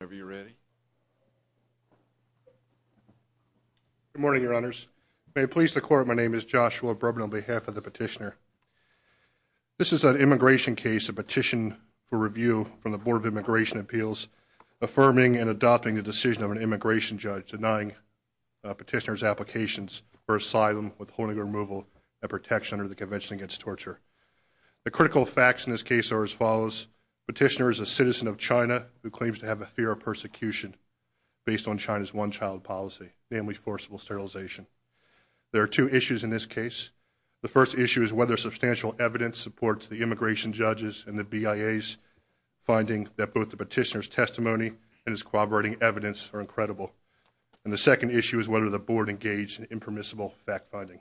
Good morning, Your Honors. May it please the Court, my name is Joshua Brubner on behalf of the Petitioner. This is an immigration case, a petition for review from the Board of Immigration Appeals, affirming and adopting the decision of an immigration judge denying Petitioner's applications for asylum, withholding removal, and protection under the Convention Against Torture. The critical facts in this case are as follows. Petitioner is a citizen of China who claims to have a fear of persecution based on China's one-child policy, namely forcible sterilization. There are two issues in this case. The first issue is whether substantial evidence supports the immigration judge's and the BIA's finding that both the petitioner's testimony and his corroborating evidence are incredible. And the second issue is whether the Board engaged in impermissible fact-finding.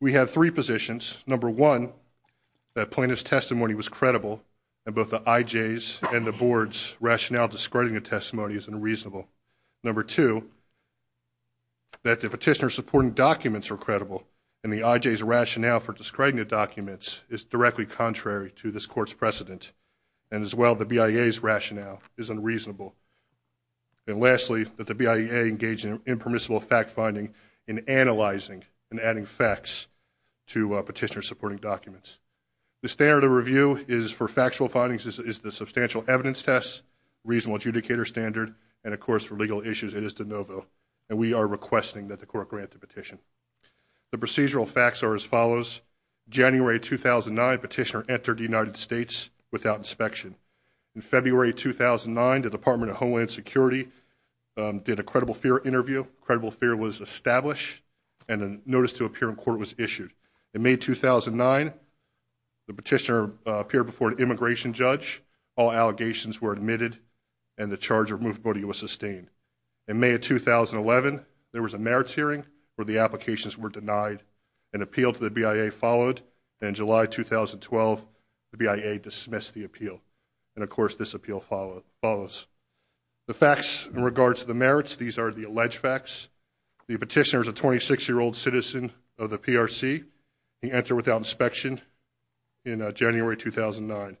We have three positions. Number one, the plaintiff's testimony is credible, and both the IJ's and the Board's rationale for discrediting the testimony is unreasonable. Number two, that the petitioner's supporting documents are credible, and the IJ's rationale for discrediting the documents is directly contrary to this Court's precedent. And as well, the BIA's rationale is unreasonable. And lastly, that the BIA engaged in impermissible fact-finding in analyzing and adding facts to petitioner's supporting documents. The standard of review is for factual findings is the substantial evidence test, reasonable adjudicator standard, and of course for legal issues it is de novo. And we are requesting that the Court grant the petition. The procedural facts are as follows. January 2009, petitioner entered the United States without inspection. In February 2009, the Department of Homeland Security did a credible fear interview. Credible fear was established, and a notice to appear in court was issued. In May 2009, the petitioner appeared before an immigration judge. All allegations were admitted, and the charge of removability was sustained. In May of 2011, there was a merits hearing, where the applications were denied. An appeal to the BIA followed, and in July 2012, the BIA dismissed the appeal. And of course, this appeal follows. The facts in regards to the merits, these are the alleged facts. The petitioner is a 26-year-old citizen of the PRC. He entered without inspection in January 2009.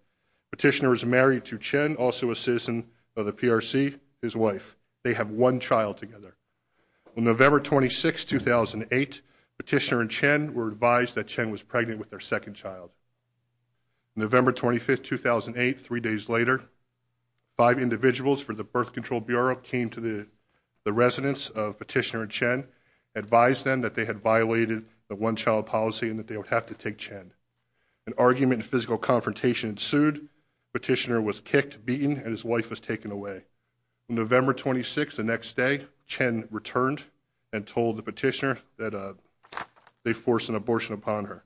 Petitioner is married to Chen, also a citizen of the PRC, his wife. They have one child together. On November 26, 2008, petitioner and Chen were advised that Chen was pregnant with their second child. On November 25, 2008, three days later, five residents of petitioner and Chen advised them that they had violated the one-child policy and that they would have to take Chen. An argument and physical confrontation ensued. Petitioner was kicked, beaten, and his wife was taken away. On November 26, the next day, Chen returned and told the petitioner that they forced an abortion upon her.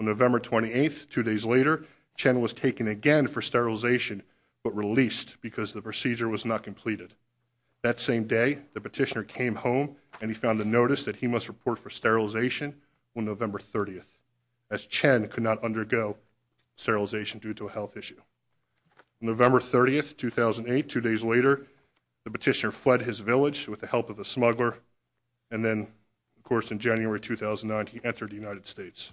On November 28, two days later, Chen was taken again for sterilization, but released because the procedure was not completed. That same day, the petitioner came home and he found a notice that he must report for sterilization on November 30, as Chen could not undergo sterilization due to a health issue. On November 30, 2008, two days later, the petitioner fled his village with the help of a smuggler. And then, of course, in January 2009, he entered the United States.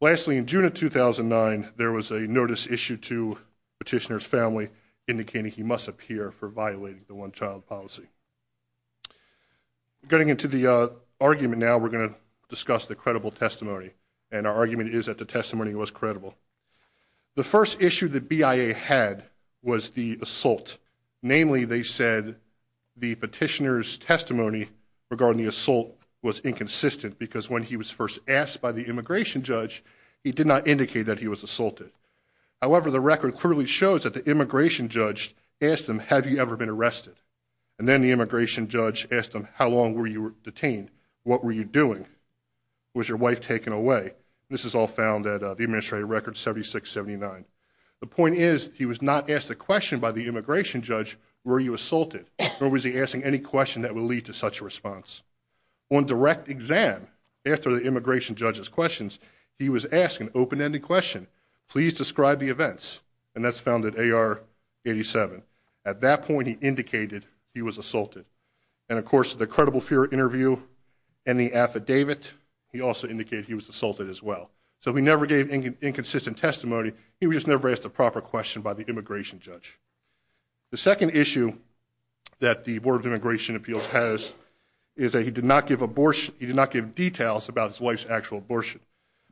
Lastly, in June of 2009, there was a notice issued to petitioner's family indicating he must appear for violating the one-child policy. Getting into the argument now, we're going to discuss the credible testimony. And our argument is that the testimony was credible. The first issue that BIA had was the assault. Namely, they said the petitioner's testimony regarding the assault was inconsistent because when he was first asked by the immigration judge, he did not indicate that he was assaulted. However, the record clearly shows that the immigration judge asked him, have you ever been arrested? And then the immigration judge asked him, how long were you detained? What were you doing? Was your wife taken away? This is all found at the Administrative Record 7679. The point is, he was not asked a question by the immigration judge, were you assaulted? Or was he asking any question that would lead to such a response? On direct exam, after the immigration judge's questions, he was asked an open-ended question, please describe the events. And that's found at AR 87. At that point, he indicated he was assaulted. And of course, the credible fear interview and the affidavit, he also indicated he was assaulted as well. So we never gave inconsistent testimony, he was just never asked a proper question by the immigration judge. The second issue that the Board of Immigration Appeals has is that he did not give abortion, he did not give details about his wife's actual abortion.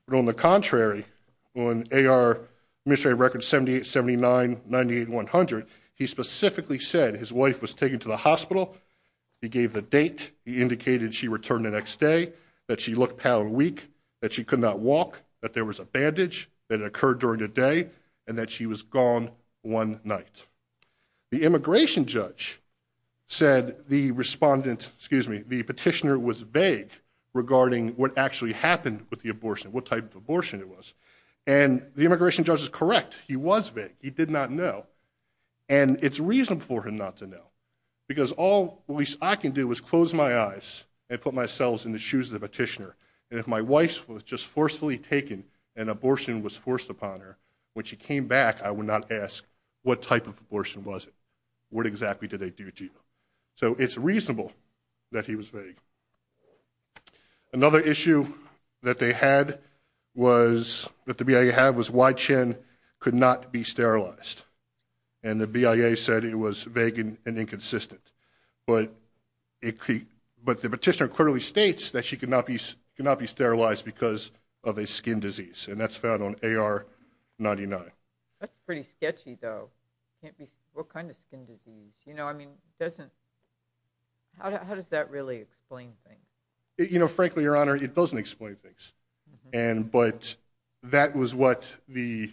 But on the contrary, on AR Administrative Record 7879-98100, he specifically said his wife was taken to the hospital, he gave the date, he indicated she returned the next day, that she looked pale and weak, that she could not walk, that there was a bandage that occurred during the day, and that she was gone one night. The immigration judge said the petitioner was vague regarding what actually happened with the abortion, what type of abortion it was. And the immigration judge is correct, he was vague, he did not know. And it's reasonable for him not to know. Because all I can do is close my eyes and put myself in the shoes of the petitioner, and if my wife was just forcefully taken, and abortion was forced upon her, when she came back, I would not ask what type of abortion was it, what exactly did they do to you. So it's reasonable that he was vague. Another issue that they had was, that the BIA had, was why Chen could not be sterilized. And the BIA said it was vague and inconsistent. But the petitioner clearly states that she could not be sterilized because of a skin disease, and that's found on AR-99. That's pretty sketchy though. What kind of skin disease? You know, I mean, it doesn't, how does that really explain things? You know, frankly, Your Honor, it doesn't explain things. And, but, that was what the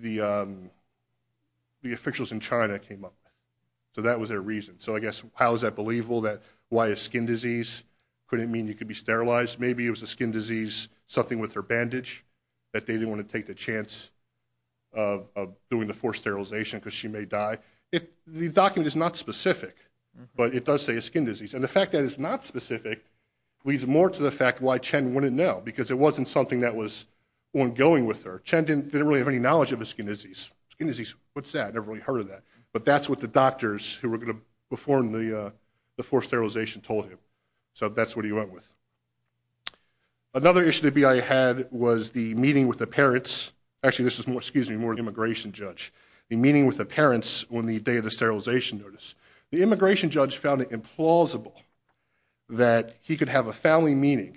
BIA said. So that was their reason. So I guess, how is that believable, that why a skin disease couldn't mean you could be sterilized? Maybe it was a skin disease, something with her bandage, that they didn't want to take the chance of doing the forced sterilization because she may die. The document is not specific, but it does say a skin disease. And the fact that it's not specific, leads more to the fact why Chen wouldn't know. Because it wasn't something that was ongoing with her. Chen didn't really have any knowledge of a skin disease. Skin disease, that's what the doctors who were going to perform the forced sterilization told him. So that's what he went with. Another issue the BIA had was the meeting with the parents. Actually, this was more, excuse me, more immigration judge. The meeting with the parents on the day of the sterilization notice. The immigration judge found it implausible that he could have a family meeting,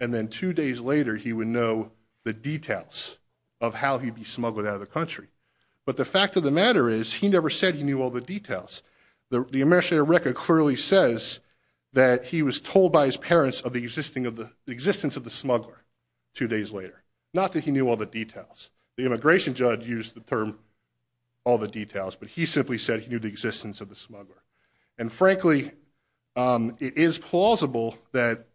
and then two days later, he would know the details of how he'd be smuggled out of the country. But the fact of the matter is, he never said he knew all the details. The immigration record clearly says that he was told by his parents of the existence of the smuggler two days later. Not that he knew all the details. The immigration judge used the term, all the details, but he simply said he knew the existence of the smuggler. And frankly, it is plausible that,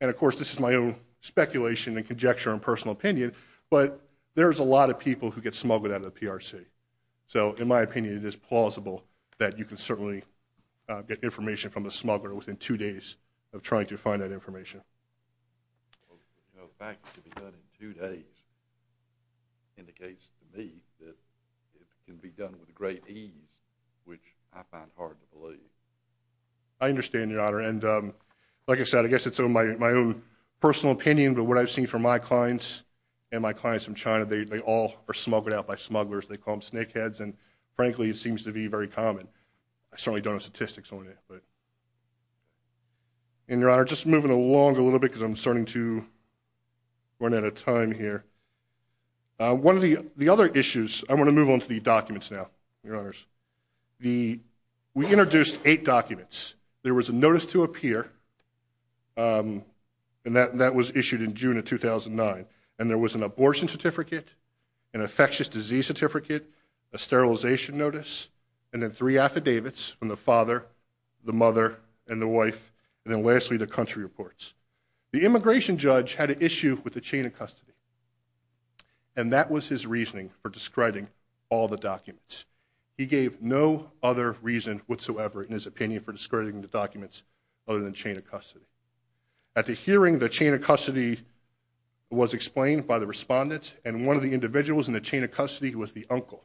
and of course this is my own speculation and conjecture and personal opinion, but there's a lot of people who get smuggled out of the PRC. So in my opinion, it is plausible that you can certainly get information from a smuggler within two days of trying to find that information. The fact that it can be done in two days indicates to me that it can be done with great ease, which I find hard to believe. I understand, Your Honor. And like I said, I guess it's my own personal opinion, but what I've seen from my clients and my clients from China, they all are smuggled out by smugglers. They call them snakeheads. And frankly, it seems to be very common. I certainly don't have statistics on it, but. And Your Honor, just moving along a little bit because I'm starting to run out of time here. One of the other issues, I'm going to move on to the documents now, Your Honors. The, we introduced eight documents. There was a notice to appear, and that was issued in June of 2009, and there was an abortion certificate, an infectious disease certificate, a sterilization notice, and then three affidavits from the father, the mother, and the wife, and then lastly, the country reports. The immigration judge had an issue with the chain of custody, and that was his reasoning for discrediting all the documents. He gave no other reason whatsoever in his opinion for discrediting the documents other than chain of custody. At the hearing, the chain of custody was explained by the respondents, and one of the individuals in the chain of custody was the uncle.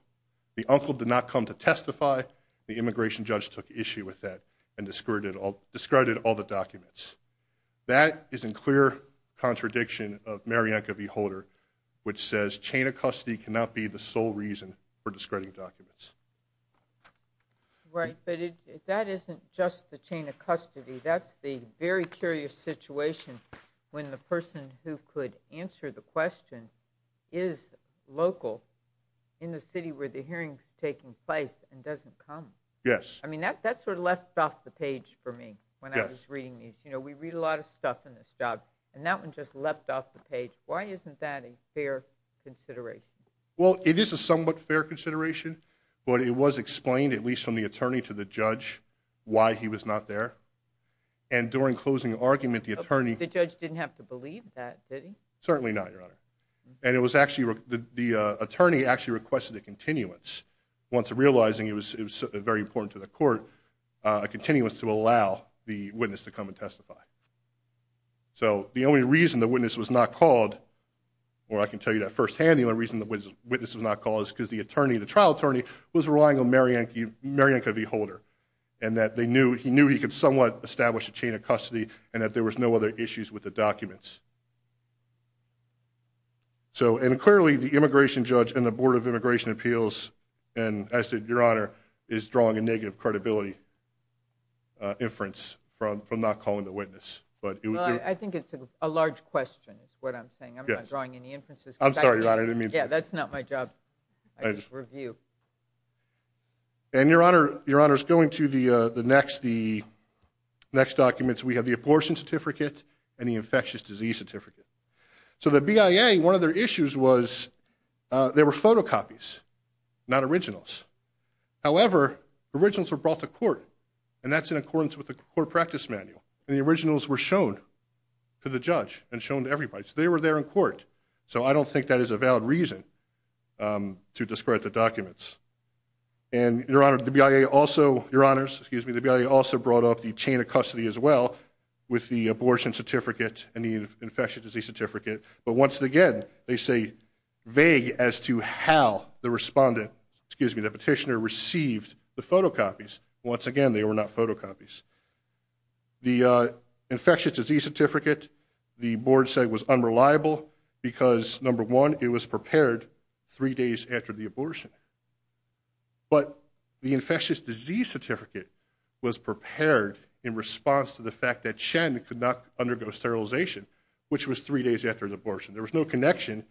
The uncle did not come to testify. The immigration judge took issue with that and discredited all the documents. That is in clear contradiction of Marianka V. Holder, which says chain of custody cannot be the sole reason for discrediting documents. Right, but if that isn't just the chain of custody, that's the very curious situation when the person who could answer the question is local in the city where the hearing's taking place and doesn't come. Yes. I mean, that sort of left off the page for me when I was reading these. We read a lot of stuff in this job, and that one just left off the page. Why isn't that a fair consideration? Well, it is a somewhat fair consideration, but it was explained, at least from the attorney to the judge, why he was not there. And during closing argument, the attorney... The judge didn't have to believe that, did he? Certainly not, Your Honor. And the attorney actually requested a continuance once realizing it was very important to the court, a continuance to allow the witness to come and testify. So the only reason the witness was not called, or I can tell you that firsthand, the only reason the witness was not called is because the attorney, the trial attorney, was relying on Marianka V. Holder, and that he knew he could somewhat establish a chain of custody and that there was no other issues with the documents. So and clearly, the immigration judge and the Board of Immigration Appeals, and as did Your Honor, is drawing a negative credibility inference from not calling the witness. Well, I think it's a large question, is what I'm saying. I'm not drawing any inferences. I'm sorry, Your Honor. Yeah, that's not my job. I just review. And Your Honor's going to the next documents. We have the abortion certificate and the infectious disease certificate. So the BIA, one of their issues was they were photocopies, not originals. However, originals were brought to court, and that's in accordance with the court practice manual. And the originals were shown to the judge and shown to everybody. So they were there in court. So I don't think that is a valid reason to discard the documents. And Your Honor, the BIA also, Your Honors, excuse me, the BIA also brought up the chain of custody as well with the abortion certificate and the infectious disease certificate. But once again, they say vague as to how the respondent, excuse me, the petitioner received the photocopies. Once again, they were not photocopies. The infectious disease certificate, the board said was unreliable because number one, it was prepared three days after the abortion. But the infectious disease certificate was prepared in response to the fact that Shannon could not undergo sterilization, which was three days after the abortion. There was no connection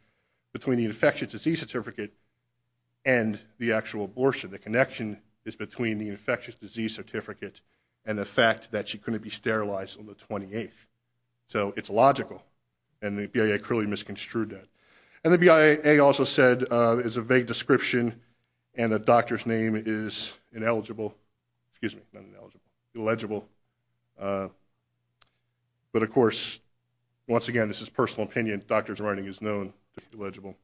between the infectious disease certificate and the actual abortion. The connection is between the infectious disease certificate and the fact that she couldn't be sterilized on the 28th. So it's logical. And the BIA clearly misconstrued that. And the BIA also said it's a vague description and the doctor's name is ineligible, excuse me, not ineligible, illegible. But of course, once again, this is personal opinion. Doctor's writing is known to be illegible.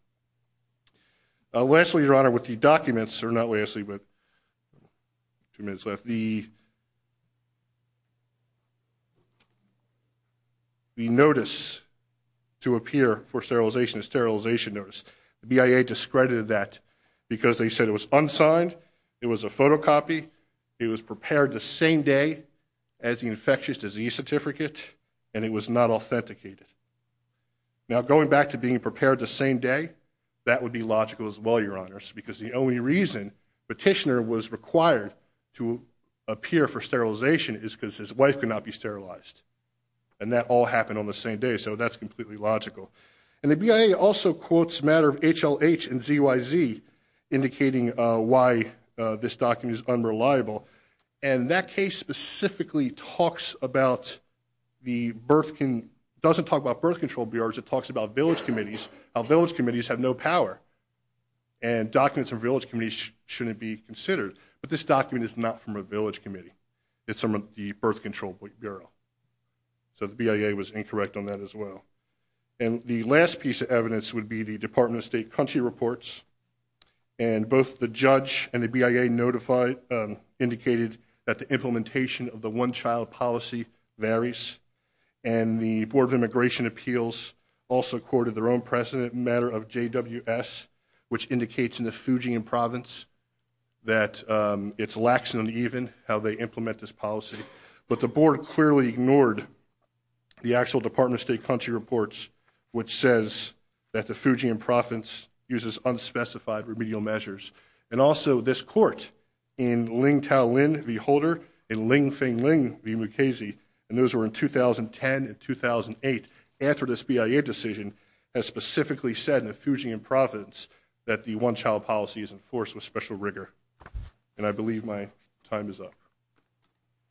Lastly, Your Honor, with the documents, or not lastly, but two minutes left, the notice to appear for sterilization, a sterilization notice, the BIA discredited that because they said it was unsigned, it was a photocopy, it was prepared the same day as the infectious disease certificate, and it was not authenticated. Now going back to being prepared the same day, that would be logical as well, Your Honor, because the only reason Petitioner was required to appear for sterilization is because his wife could not be sterilized. And that all happened on the same day. So that's completely logical. And the BIA also quotes matter of HLH and ZYZ indicating why this document is unreliable. And that case specifically talks about the birth, doesn't talk about birth control bureaus, it talks about village committees, how village committees have no power. And documents of village committees shouldn't be considered. But this document is not from a village committee. It's from the birth control bureau. So the BIA was incorrect on that as well. And the last piece of evidence would be the Department of State Country Reports. And both the judge and the BIA notified, indicated that the implementation of the one-child policy varies. And the Board of Immigration Appeals also quoted their own precedent, matter of JWS, which indicates in the Fujian province that it's lax and uneven how they implement this policy. But the board clearly ignored the actual Department of State Country Reports, which says that the Fujian province uses unspecified remedial measures. And also this court in Ling Tao Lin v. Holder and Ling Feng Ling v. Mukasey, and those were in 2010 and 2008, after this BIA decision, has specifically said in the Fujian province that the one-child policy is enforced with special rigor. And I believe my time is up.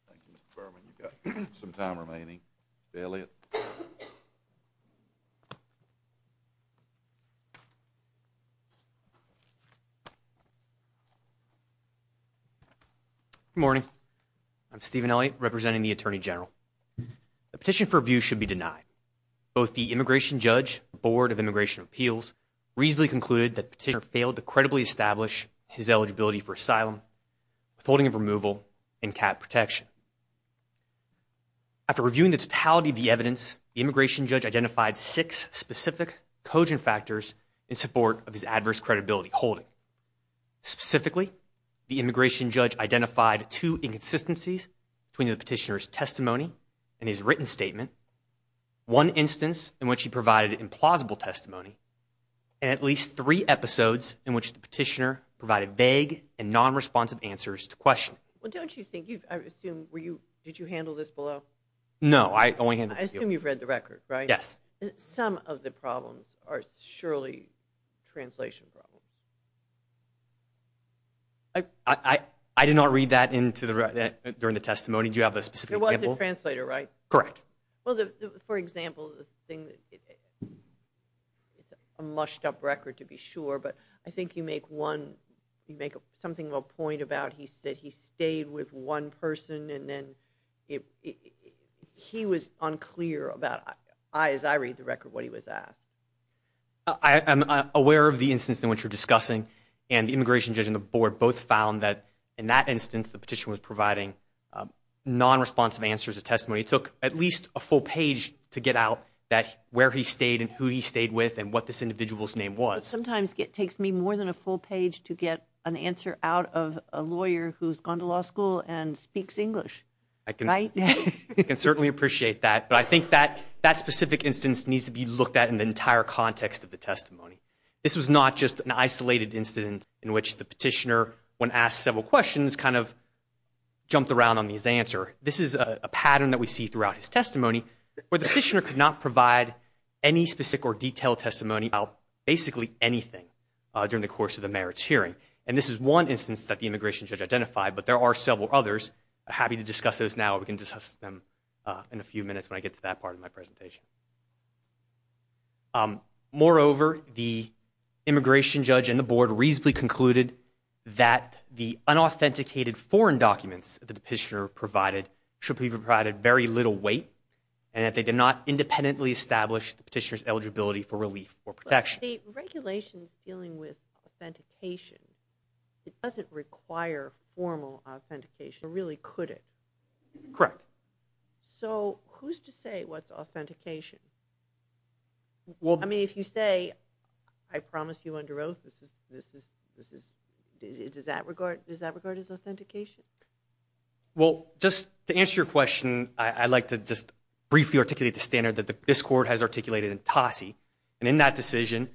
Thank you, Mr. Berman. You've got some time remaining. Good morning. I'm Stephen Elliott, representing the Attorney General. The petition for review should be denied. Both the immigration judge and the Board of Immigration Appeals reasonably concluded that the petitioner failed to credibly establish his eligibility for asylum with holding of removal and cap protection. After reviewing the totality of the evidence, the immigration judge identified six specific cogent factors in support of his adverse credibility holding. Specifically, the immigration judge identified two inconsistencies between the petitioner's testimony and his written statement, one instance in which he provided implausible testimony, and at least three episodes in which the petitioner provided vague and non-responsive answers to questions. Well, don't you think you've, I assume, were you, did you handle this below? No, I only handled the appeal. I assume you've read the record, right? Yes. Some of the problems are surely translation problems. I did not read that into the, during the testimony. Do you have a specific example? It was a translator, right? Correct. Well, for example, the thing that, it's a mushed up record to be sure, but I think you make one, you make something of a point about he said he stayed with one person and then he was unclear about, as I read the record, what he was at. I am aware of the instance in which you're discussing, and the immigration judge and the board both found that, in that instance, the petitioner was providing non-responsive answers to testimony. It took at least a full page to get out that, where he stayed and who he stayed with and what this individual's name was. Sometimes it takes me more than a full page to get an answer out of a lawyer who's gone to law school and speaks English, right? I can certainly appreciate that, but I think that specific instance needs to be looked at in the entire context of the testimony. This was not just an isolated incident in which the petitioner, when asked several questions, kind of jumped around on his answer. This is a pattern that we see throughout his testimony where the petitioner could not provide any specific or detailed testimony about basically anything during the course of the merits hearing. And this is one instance that the immigration judge identified, but there are several others. I'm happy to discuss those now or we can discuss them in a few minutes when I get to that part of my presentation. Moreover, the immigration judge and the board reasonably concluded that the unauthenticated foreign documents that the petitioner provided should be provided very little weight and that they did not independently establish the petitioner's eligibility for relief or protection. But the regulations dealing with authentication, it doesn't require formal authentication. It really couldn't. Correct. So who's to say what's authentication? I mean, if you say, I promise you under oath, does that regard as authentication? Well, just to answer your question, I'd like to just briefly articulate the standard that this court has articulated in Tosse. And in that decision,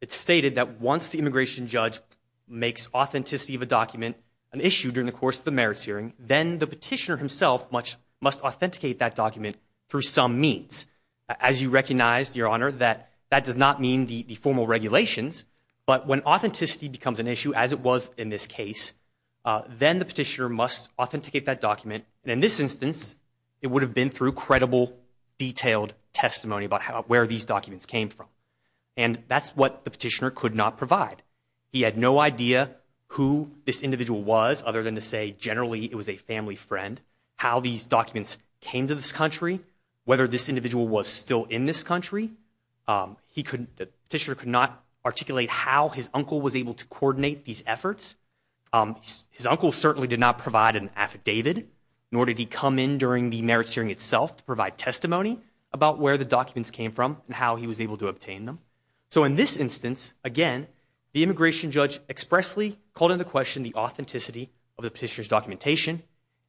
it's stated that once the immigration judge makes authenticity of the document, then the petitioner himself must authenticate that document through some means. As you recognize, Your Honor, that that does not mean the formal regulations, but when authenticity becomes an issue, as it was in this case, then the petitioner must authenticate that document. And in this instance, it would have been through credible, detailed testimony about where these documents came from. And that's what the petitioner could not provide. He had no idea who this individual was, other than to say generally it was a family friend, how these documents came to this country, whether this individual was still in this country. The petitioner could not articulate how his uncle was able to coordinate these efforts. His uncle certainly did not provide an affidavit, nor did he come in during the merits hearing itself to provide testimony about where the documents came from and how he was able to obtain them. So in this instance, again, the immigration judge expressly called into question the authenticity of the petitioner's documentation.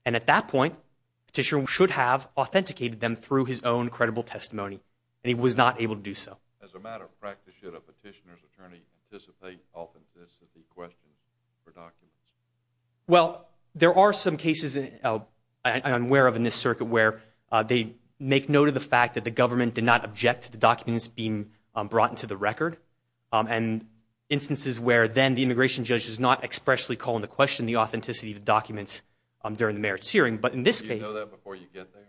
And at that point, the petitioner should have authenticated them through his own credible testimony. And he was not able to do so. As a matter of practice, should a petitioner's attorney anticipate authenticity questions for documents? Well, there are some cases I'm aware of in this circuit where they make note of the fact that the government did not object to the documents being brought into the record, and instances where then the immigration judge does not expressly call into question the authenticity of the documents during the merits hearing. But in this case... Do you know that before you get there?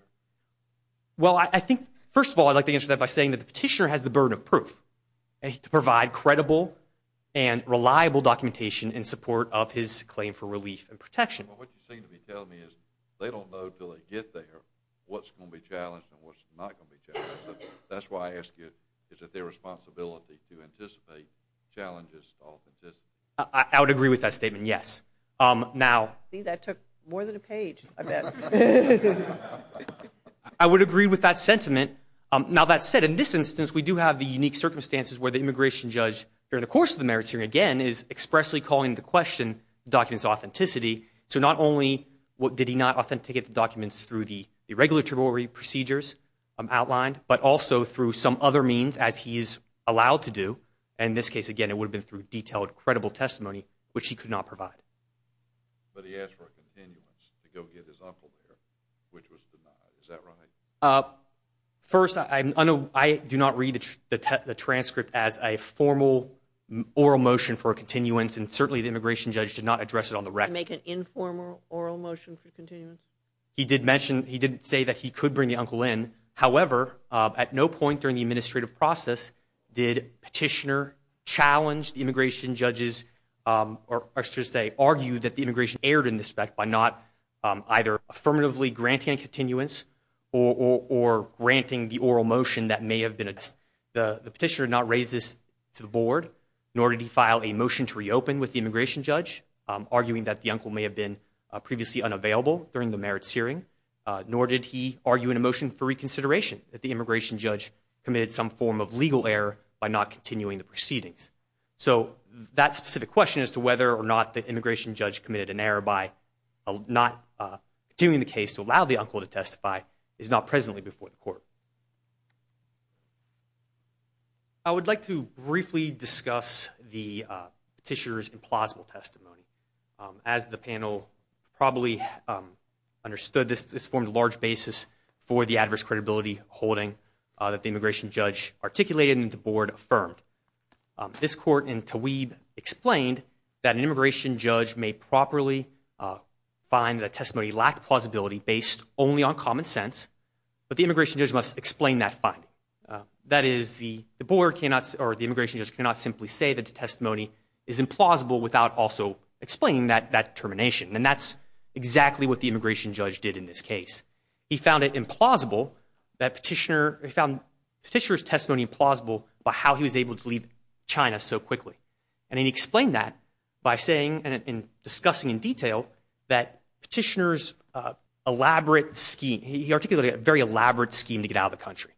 Well, I think, first of all, I'd like to answer that by saying that the petitioner has the burden of proof to provide credible and reliable documentation in support of his claim for relief and protection. Well, what you seem to be telling me is they don't know until they get there what's going to be challenged and what's not going to be challenged. So that's why I ask you, is it their responsibility to anticipate challenges to authenticity? I would agree with that statement, yes. Now... See, that took more than a page, I bet. I would agree with that sentiment. Now, that said, in this instance, we do have the unique circumstances where the immigration judge, during the course of the merits hearing, again, is expressly calling into question the document's authenticity. So not only did he not authenticate the documents through the regulatory procedures outlined, but also through some other means, as he is allowed to do. In this case, again, it would have been through detailed, credible testimony, which he could not provide. But he asked for a continuance to go get his uncle there, which was denied. Is that right? First, I do not read the transcript as a formal oral motion for a continuance, and certainly the immigration judge did not address it on the record. Did he not make an informal oral motion for continuance? He did mention... He did say that he could bring the uncle in. However, at no point during the administrative process did Petitioner challenge the immigration judge's... Or I should say, argue that the immigration erred in this respect by not either affirmatively granting a continuance or granting the oral motion that may have been addressed. The Petitioner did not raise this to the board, nor did he file a motion to reopen with the conclusion that the uncle may have been previously unavailable during the merits hearing, nor did he argue in a motion for reconsideration that the immigration judge committed some form of legal error by not continuing the proceedings. So, that specific question as to whether or not the immigration judge committed an error by not continuing the case to allow the uncle to testify is not presently before the court. I would like to briefly discuss the Petitioner's implausible testimony. As the panel probably understood, this formed a large basis for the adverse credibility holding that the immigration judge articulated and the board affirmed. This court in Taweeb explained that an immigration judge may properly find that a testimony lacked plausibility based only on common sense, but the immigration judge must explain that finding. That is, the board cannot... Explain that determination, and that's exactly what the immigration judge did in this case. He found it implausible that Petitioner... He found Petitioner's testimony implausible about how he was able to leave China so quickly. And he explained that by saying and discussing in detail that Petitioner's elaborate scheme... He articulated a very elaborate scheme to get out of the country.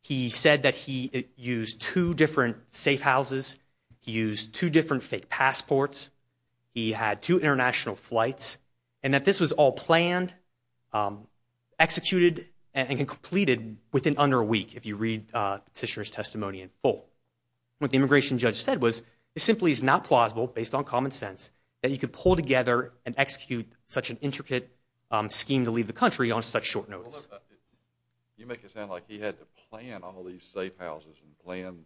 He said that he used two different safe houses. He used two different fake passports. He had two international flights. And that this was all planned, executed, and completed within under a week, if you read Petitioner's testimony in full. What the immigration judge said was, it simply is not plausible, based on common sense, that you could pull together and execute such an intricate scheme to leave the country on such short notes. You make it sound like he had to plan all these safe houses and plan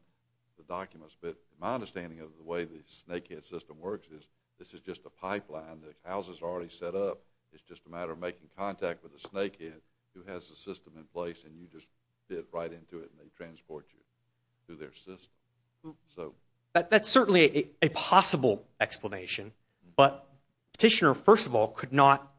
the documents, but my understanding of the way the Snakehead system works is this is just a pipeline. The houses are already set up. It's just a matter of making contact with the Snakehead, who has the system in place, and you just fit right into it, and they transport you to their system. That's certainly a possible explanation, but Petitioner, first of all, could not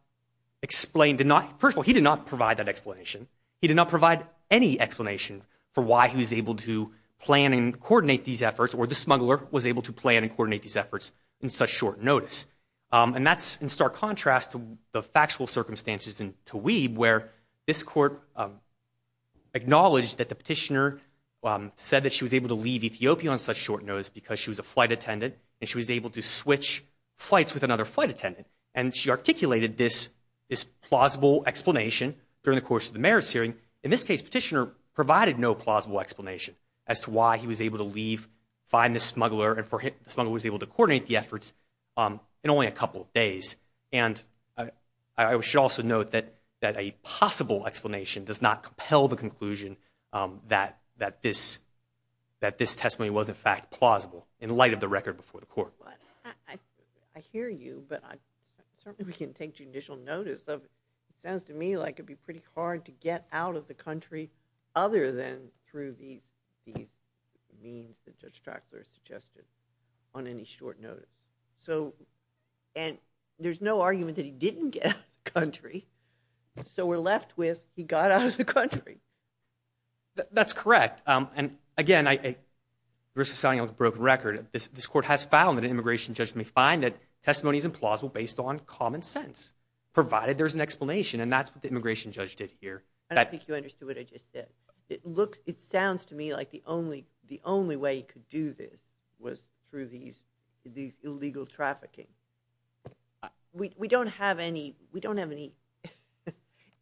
explain... First of all, he did not provide that explanation. He did not provide any explanation for why he was able to plan and coordinate these efforts, or the smuggler was able to plan and coordinate these efforts in such short notice. And that's in stark contrast to the factual circumstances in Taweeb, where this court acknowledged that the petitioner said that she was able to leave Ethiopia on such short notice because she was a flight attendant, and she was able to switch flights with another flight attendant. And she articulated this plausible explanation during the course of the merits hearing. In this case, Petitioner provided no plausible explanation as to why he was able to leave, find the smuggler, and the smuggler was able to coordinate the efforts in only a couple of days. And I should also note that a possible explanation does not compel the conclusion that this testimony was, in fact, plausible in light of the record before the court. I hear you, but certainly we can take judicial notice of it. It sounds to me like it would be pretty hard to get out of the country other than through these means that Judge Draxler suggested on any short notice. And there's no argument that he didn't get out of the country, so we're left with he got out of the country. That's correct. And again, the risk of selling out is a broken record. This court has found that an immigration judge may find that testimony is implausible based on common sense, provided there's an explanation, and that's what the immigration judge did here. I don't think you understood what I just said. It sounds to me like the only way he could do this was through these illegal trafficking. We don't have any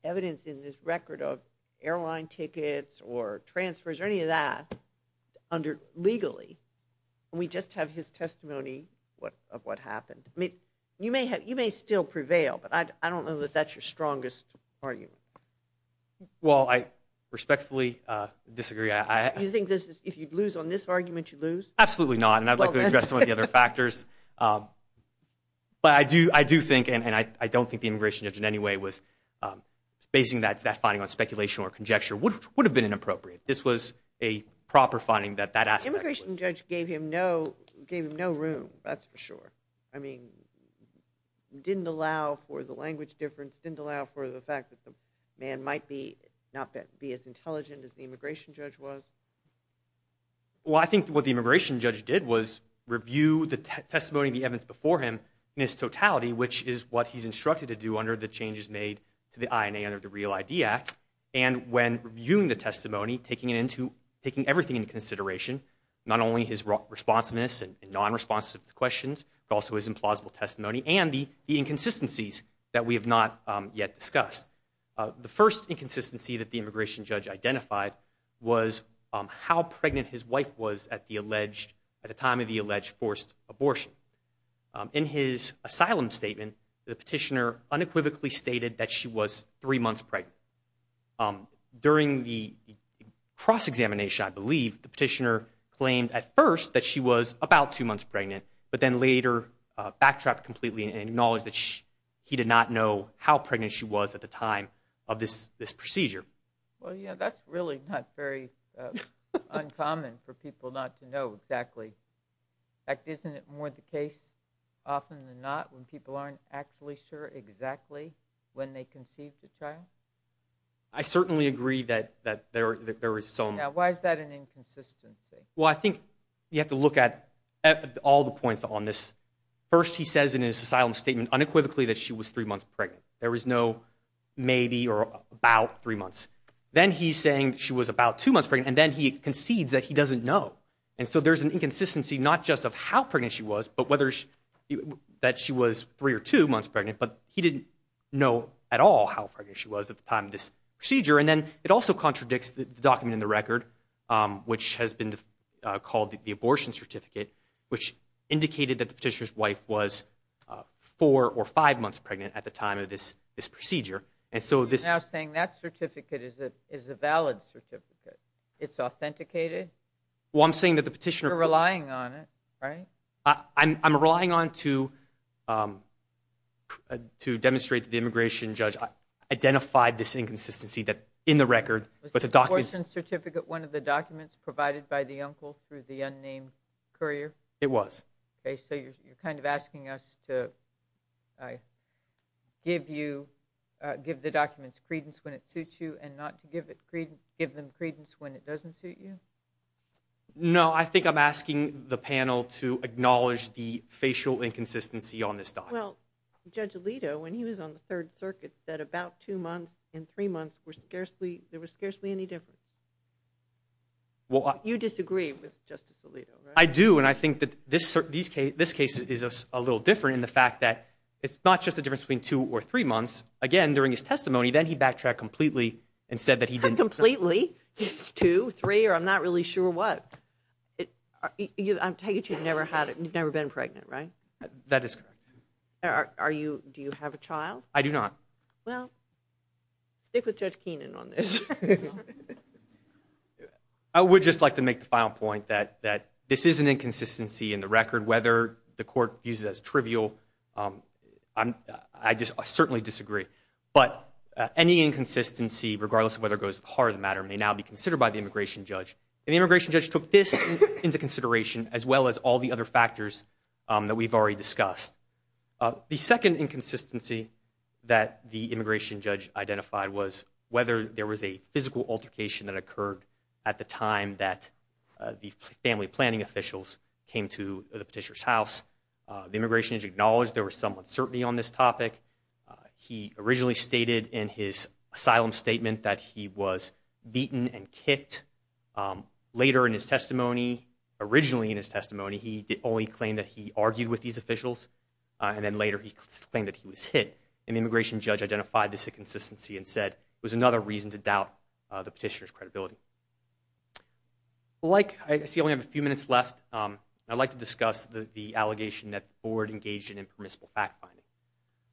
evidence in this record of airline tickets or transfers or any of that legally. We just have his testimony of what happened. You may still prevail, but I don't know that that's your strongest argument. Well, I respectfully disagree. You think if you'd lose on this argument, you'd lose? Absolutely not, and I'd like to address some of the other factors. But I do think, and I don't think the immigration judge in any way was basing that finding on speculation or conjecture. It would have been inappropriate. This was a proper finding that that aspect was. The immigration judge gave him no room, that's for sure. I mean, didn't allow for the language difference, didn't allow for the fact that the man might not be as intelligent as the immigration judge was. Well, I think what the immigration judge did was review the testimony and the evidence before him in its totality, which is what he's instructed to do under the changes made to the INA under the REAL ID Act. And when reviewing the testimony, taking it into, taking everything into consideration, not only his responsiveness and non-responsive questions, but also his implausible testimony and the inconsistencies that we have not yet discussed. The first inconsistency that the immigration judge identified was how pregnant his wife was at the alleged, at the time of the alleged forced abortion. In his asylum statement, the petitioner unequivocally stated that she was three months pregnant. During the cross-examination, I believe, the petitioner claimed at first that she was about two months pregnant, but then later backtracked completely and acknowledged that he did not know how pregnant she was at the time of this procedure. Well, yeah, that's really not very uncommon for people not to know exactly. In fact, isn't it more the case often than not when people aren't actually sure exactly when they conceived a child? I certainly agree that there is some. Yeah, why is that an inconsistency? Well, I think you have to look at all the points on this. First, he says in his asylum statement unequivocally that she was three months pregnant. There was no maybe or about three months. Then he's saying she was about two months pregnant, and then he concedes that he doesn't know. And so there's an inconsistency not just of how pregnant she was, but whether that she was three or two months pregnant, but he didn't know at all how pregnant she was at the time of this procedure. And then it also contradicts the document in the record, which has been called the abortion certificate, which indicated that the petitioner's wife was four or five months pregnant at the time of this procedure. And so this- You're now saying that certificate is a valid certificate. It's authenticated? Well, I'm saying that the petitioner- You're relying on it, right? I'm relying on it to demonstrate that the immigration judge identified this inconsistency in the record. Was the abortion certificate one of the documents provided by the uncle through the unnamed courier? It was. Okay, so you're kind of asking us to give the documents credence when it suits you and not to give them credence when it doesn't suit you? No, I think I'm asking the panel to acknowledge the facial inconsistency on this document. Well, Judge Alito, when he was on the Third Circuit, said about two months and three months were scarcely- there was scarcely any difference. You disagree with Justice Alito, right? I do, and I think that this case is a little different in the fact that it's not just a difference between two or three months. Again, during his testimony, then he backtracked completely and said that he didn't- Completely? Two, three, or I'm not really sure what. I take it you've never been pregnant, right? That is correct. Do you have a child? I do not. Well, stick with Judge Keenan on this. I would just like to make the final point that this is an inconsistency in the record. Whether the court views it as trivial, I certainly disagree. But any inconsistency, regardless of whether it goes to the heart of the matter, may now be considered by the immigration judge. And the immigration judge took this into consideration as well as all the other factors that we've already discussed. The second inconsistency that the immigration judge identified was whether there was a physical altercation that occurred at the time that the family planning officials came to the petitioner's house. The immigration judge acknowledged there was some uncertainty on this topic. He originally stated in his asylum statement that he was beaten and kicked. Later in his testimony, originally in his testimony, he only claimed that he argued with these officials, and then later he claimed that he was hit. And the immigration judge identified this inconsistency and said it was another reason to doubt the petitioner's credibility. I see I only have a few minutes left. I'd like to discuss the allegation that the board engaged in impermissible fact-finding.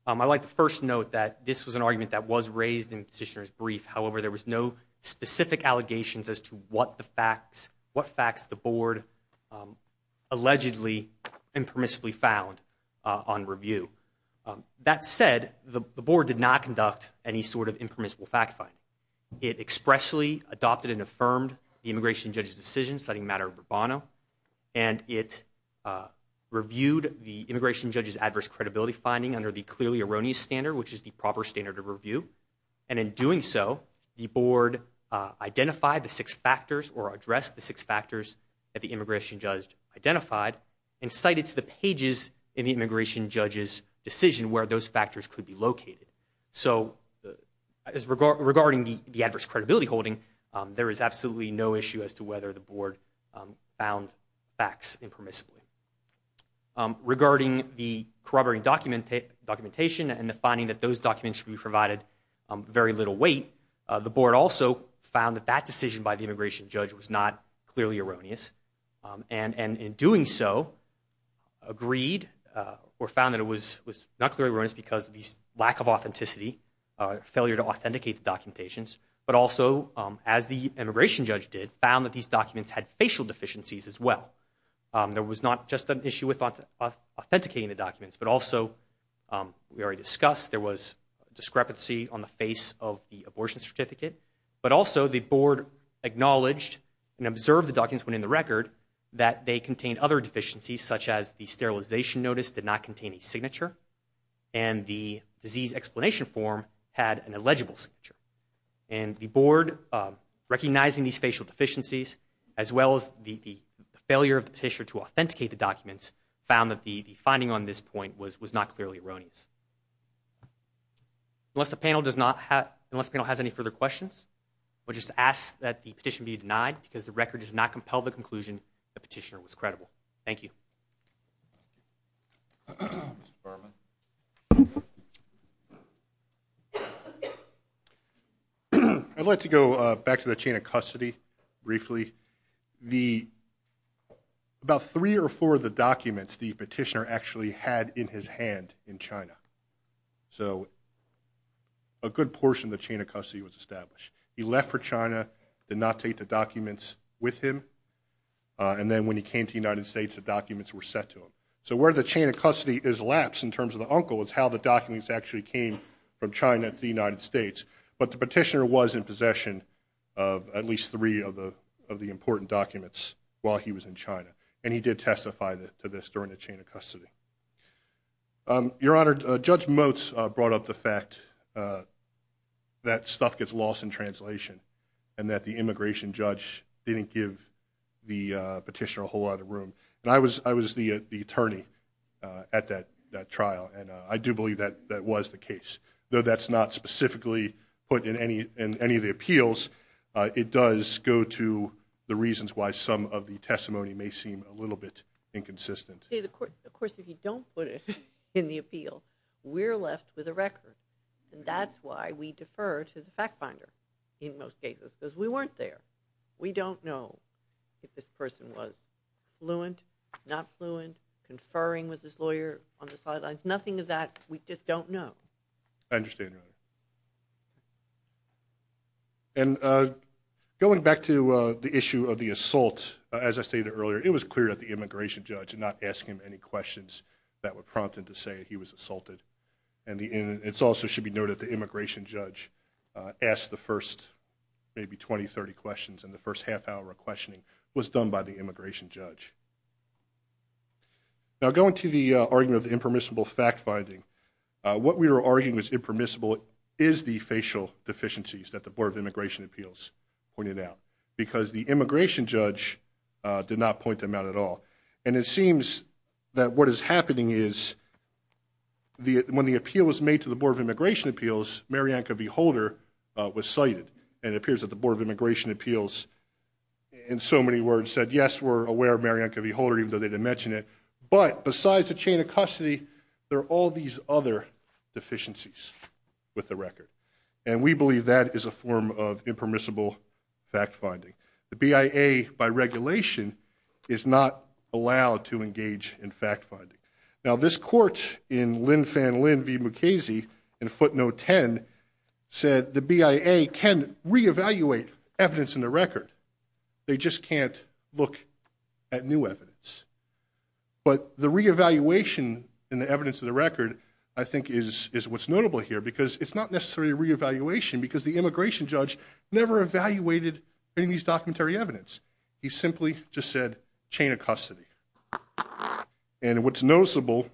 I'd like to first note that this was an argument that was raised in the petitioner's brief. However, there was no specific allegations as to what facts the board allegedly impermissibly found on review. That said, the board did not conduct any sort of impermissible fact-finding. It expressly adopted and affirmed the immigration judge's decision citing matter of bravado, and it reviewed the immigration judge's adverse credibility finding under the clearly erroneous standard, which is the proper standard of review. And in doing so, the board identified the six factors or addressed the six factors that the immigration judge identified and cited to the pages in the immigration judge's decision where those factors could be located. So regarding the adverse credibility holding, there is absolutely no issue as to whether the board found facts impermissibly. Regarding the corroborating documentation and the finding that those documents should be provided very little weight, the board also found that that decision by the immigration judge was not clearly erroneous. And in doing so, agreed or found that it was not clearly erroneous because of this lack of authenticity, failure to authenticate the documentations, but also, as the immigration judge did, found that these documents had facial deficiencies as well. There was not just an issue with authenticating the documents, but also, we already discussed, there was discrepancy on the face of the abortion certificate, but also, the board acknowledged and observed the documents when in the record that they contained other deficiencies, such as the sterilization notice did not contain a signature, and the disease explanation form had an illegible signature. And the board, recognizing these facial deficiencies as well as the failure of the petitioner to authenticate the documents, found that the finding on this point was not clearly erroneous. Unless the panel has any further questions, we'll just ask that the petition be denied because the record does not compel the conclusion the petitioner was credible. Thank you. I'd like to go back to the chain of custody briefly. About three or four of the documents the petitioner actually had in his hand in China, so a good portion of the chain of custody was established. He left for China, did not take the documents with him, and then when he came to the United States, the documents were sent to him. So where the chain of custody has lapsed in terms of the uncle is how the documents actually came from China to the United States, but the petitioner was in possession of at least three of the important documents while he was in China, and he did testify to this during the chain of custody. Your Honor, Judge Motz brought up the fact that stuff gets lost in translation and that the immigration judge didn't give the petitioner a whole lot of room. And I was the attorney at that trial, and I do believe that that was the case, though that's not specifically put in any of the appeals. It does go to the reasons why some of the testimony may seem a little bit inconsistent. Of course, if you don't put it in the appeal, we're left with a record, and that's why we defer to the fact finder in most cases because we weren't there. We don't know if this person was fluent, not fluent, conferring with his lawyer on the sidelines, because nothing of that we just don't know. I understand, Your Honor. And going back to the issue of the assault, as I stated earlier, it was clear that the immigration judge did not ask him any questions that would prompt him to say he was assaulted. And it also should be noted that the immigration judge asked the first maybe 20, 30 questions, and the first half hour of questioning was done by the immigration judge. Now, going to the argument of the impermissible fact finding, what we were arguing was impermissible is the facial deficiencies that the Board of Immigration Appeals pointed out, because the immigration judge did not point them out at all. And it seems that what is happening is when the appeal was made to the Board of Immigration Appeals, Marianca Beholder was cited, and it appears that the Board of Immigration Appeals, in so many words, said, yes, we're aware of Marianca Beholder, even though they didn't mention it. But besides the chain of custody, there are all these other deficiencies with the record. And we believe that is a form of impermissible fact finding. The BIA, by regulation, is not allowed to engage in fact finding. Now, this court in Linfanlin v. Mukasey in footnote 10 said the BIA can reevaluate evidence in the record. They just can't look at new evidence. But the reevaluation in the evidence of the record, I think, is what's notable here, because it's not necessarily a reevaluation, because the immigration judge never evaluated any of these documentary evidence. He simply just said chain of custody. And what's noticeable,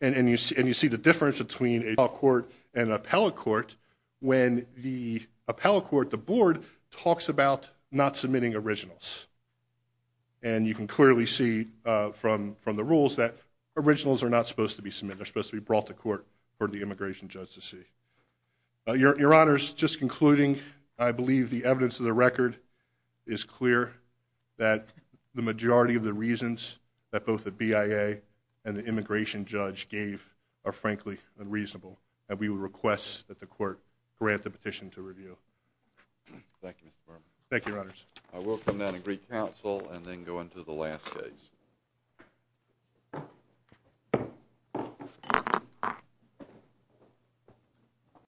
and you see the difference between a trial court and an appellate court, when the appellate court, the board, talks about not submitting originals. And you can clearly see from the rules that originals are not supposed to be submitted. They're supposed to be brought to court for the immigration judge to see. Your Honors, just concluding, I believe the evidence of the record is clear that the majority of the reasons that both the BIA and the immigration judge gave are, frankly, unreasonable. And we would request that the court grant the petition to review. Thank you, Mr. Berman. Thank you, Your Honors. I will come down and greet counsel and then go into the last case.